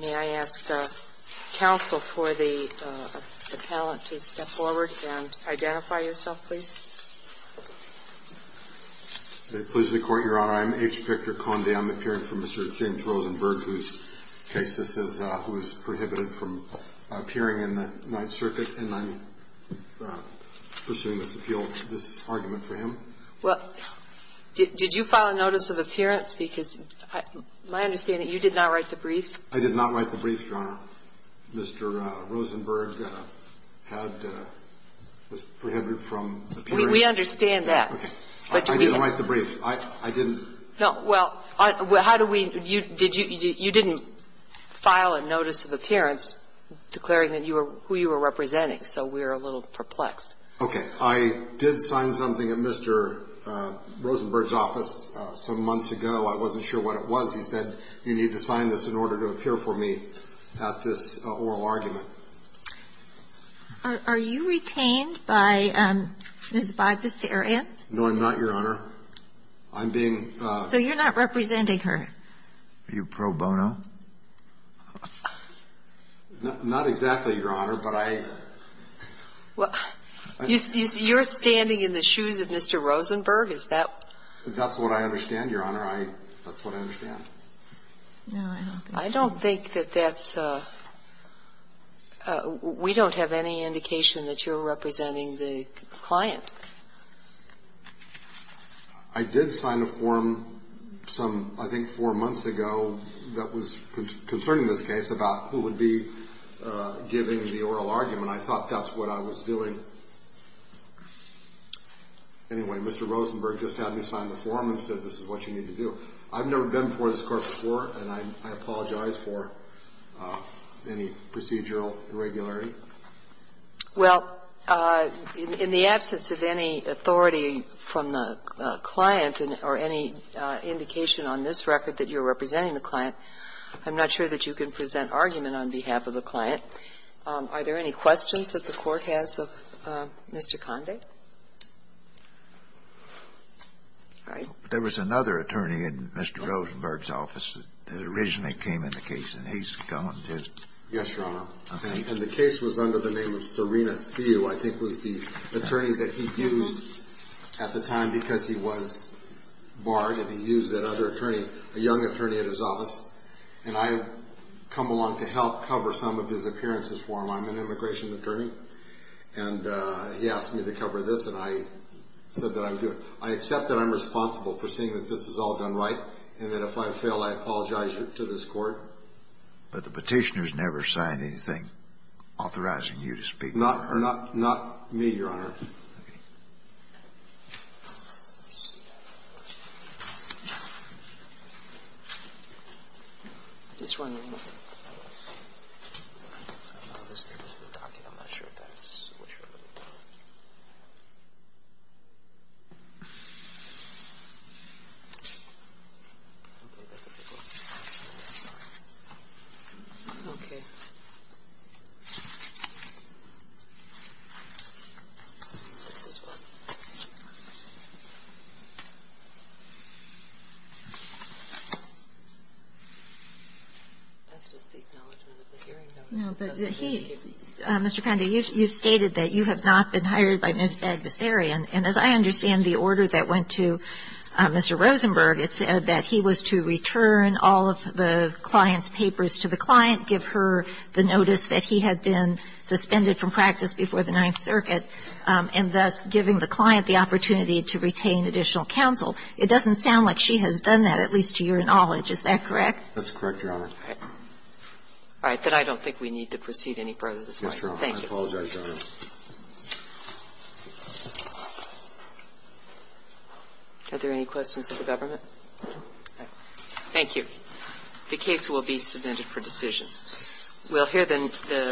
May I ask counsel for the appellant to step forward and identify yourself, please? If it pleases the Court, Your Honor, I'm H. Victor Conde. I'm appearing for Mr. James Rosenberg, whose case this is, who is prohibited from appearing in the Ninth Circuit. And I'm pursuing this appeal, this argument for him. Well, did you file a notice of appearance? Because my understanding, you did not write the briefs. I did not write the briefs, Your Honor. Mr. Rosenberg had been prohibited from appearing. We understand that. Okay. I didn't write the brief. I didn't. Well, how do we you didn't file a notice of appearance declaring who you were representing. So we're a little perplexed. Okay. I did sign something at Mr. Rosenberg's office some months ago. I wasn't sure what it was. He said you need to sign this in order to appear for me at this oral argument. Are you retained by Ms. Bogdasarian? No, I'm not, Your Honor. I'm being So you're not representing her? Are you pro bono? Not exactly, Your Honor, but I You're standing in the shoes of Mr. Rosenberg? Is that That's what I understand, Your Honor. That's what I understand. I don't think that that's We don't have any indication that you're representing the client. I did sign a form some, I think, four months ago that was concerning this case about who would be giving the oral argument. I thought that's what I was doing. Anyway, Mr. Rosenberg just had me sign the form and said this is what you need to do. I've never been before this Court before, and I apologize for any procedural irregularity. Well, in the absence of any authority from the client or any indication on this record that you're representing the client, I'm not sure that you can present argument on behalf of the client. Are there any questions that the Court has of Mr. Conde? All right. There was another attorney in Mr. Rosenberg's office that originally came in the case, and he's gone. Yes, Your Honor. And the case was under the name of Serena Seu. I think it was the attorney that he used at the time because he was barred, and he used that other attorney, a young attorney at his office. And I come along to help cover some of his appearances for him. I'm an immigration attorney, and he asked me to cover this, and I said that I would do it. I accept that I'm responsible for seeing that this is all done right, and that if I fail, I apologize to this Court. But the Petitioner has never signed anything authorizing you to speak. Not me, Your Honor. Okay. I'm just wondering. I'm not sure if that's what you're looking for. Okay. This is what? That's just the acknowledgement of the hearing notice. No, but he – Mr. Conde, you've stated that you have not been responsible for any of this. I would say that the Petitioner has not been hired by Ms. Bagdasarian, and as I understand the order that went to Mr. Rosenberg, it said that he was to return all of the client's papers to the client, give her the notice that he had been suspended from practice before the Ninth Circuit, and thus giving the client the opportunity to retain additional counsel. It doesn't sound like she has done that, at least to your knowledge. Is that correct? That's correct, Your Honor. All right, then I don't think we need to proceed any further this morning. Thank you. I apologize, Your Honor. Are there any questions of the government? Thank you. The case will be submitted for decision. We'll hear then the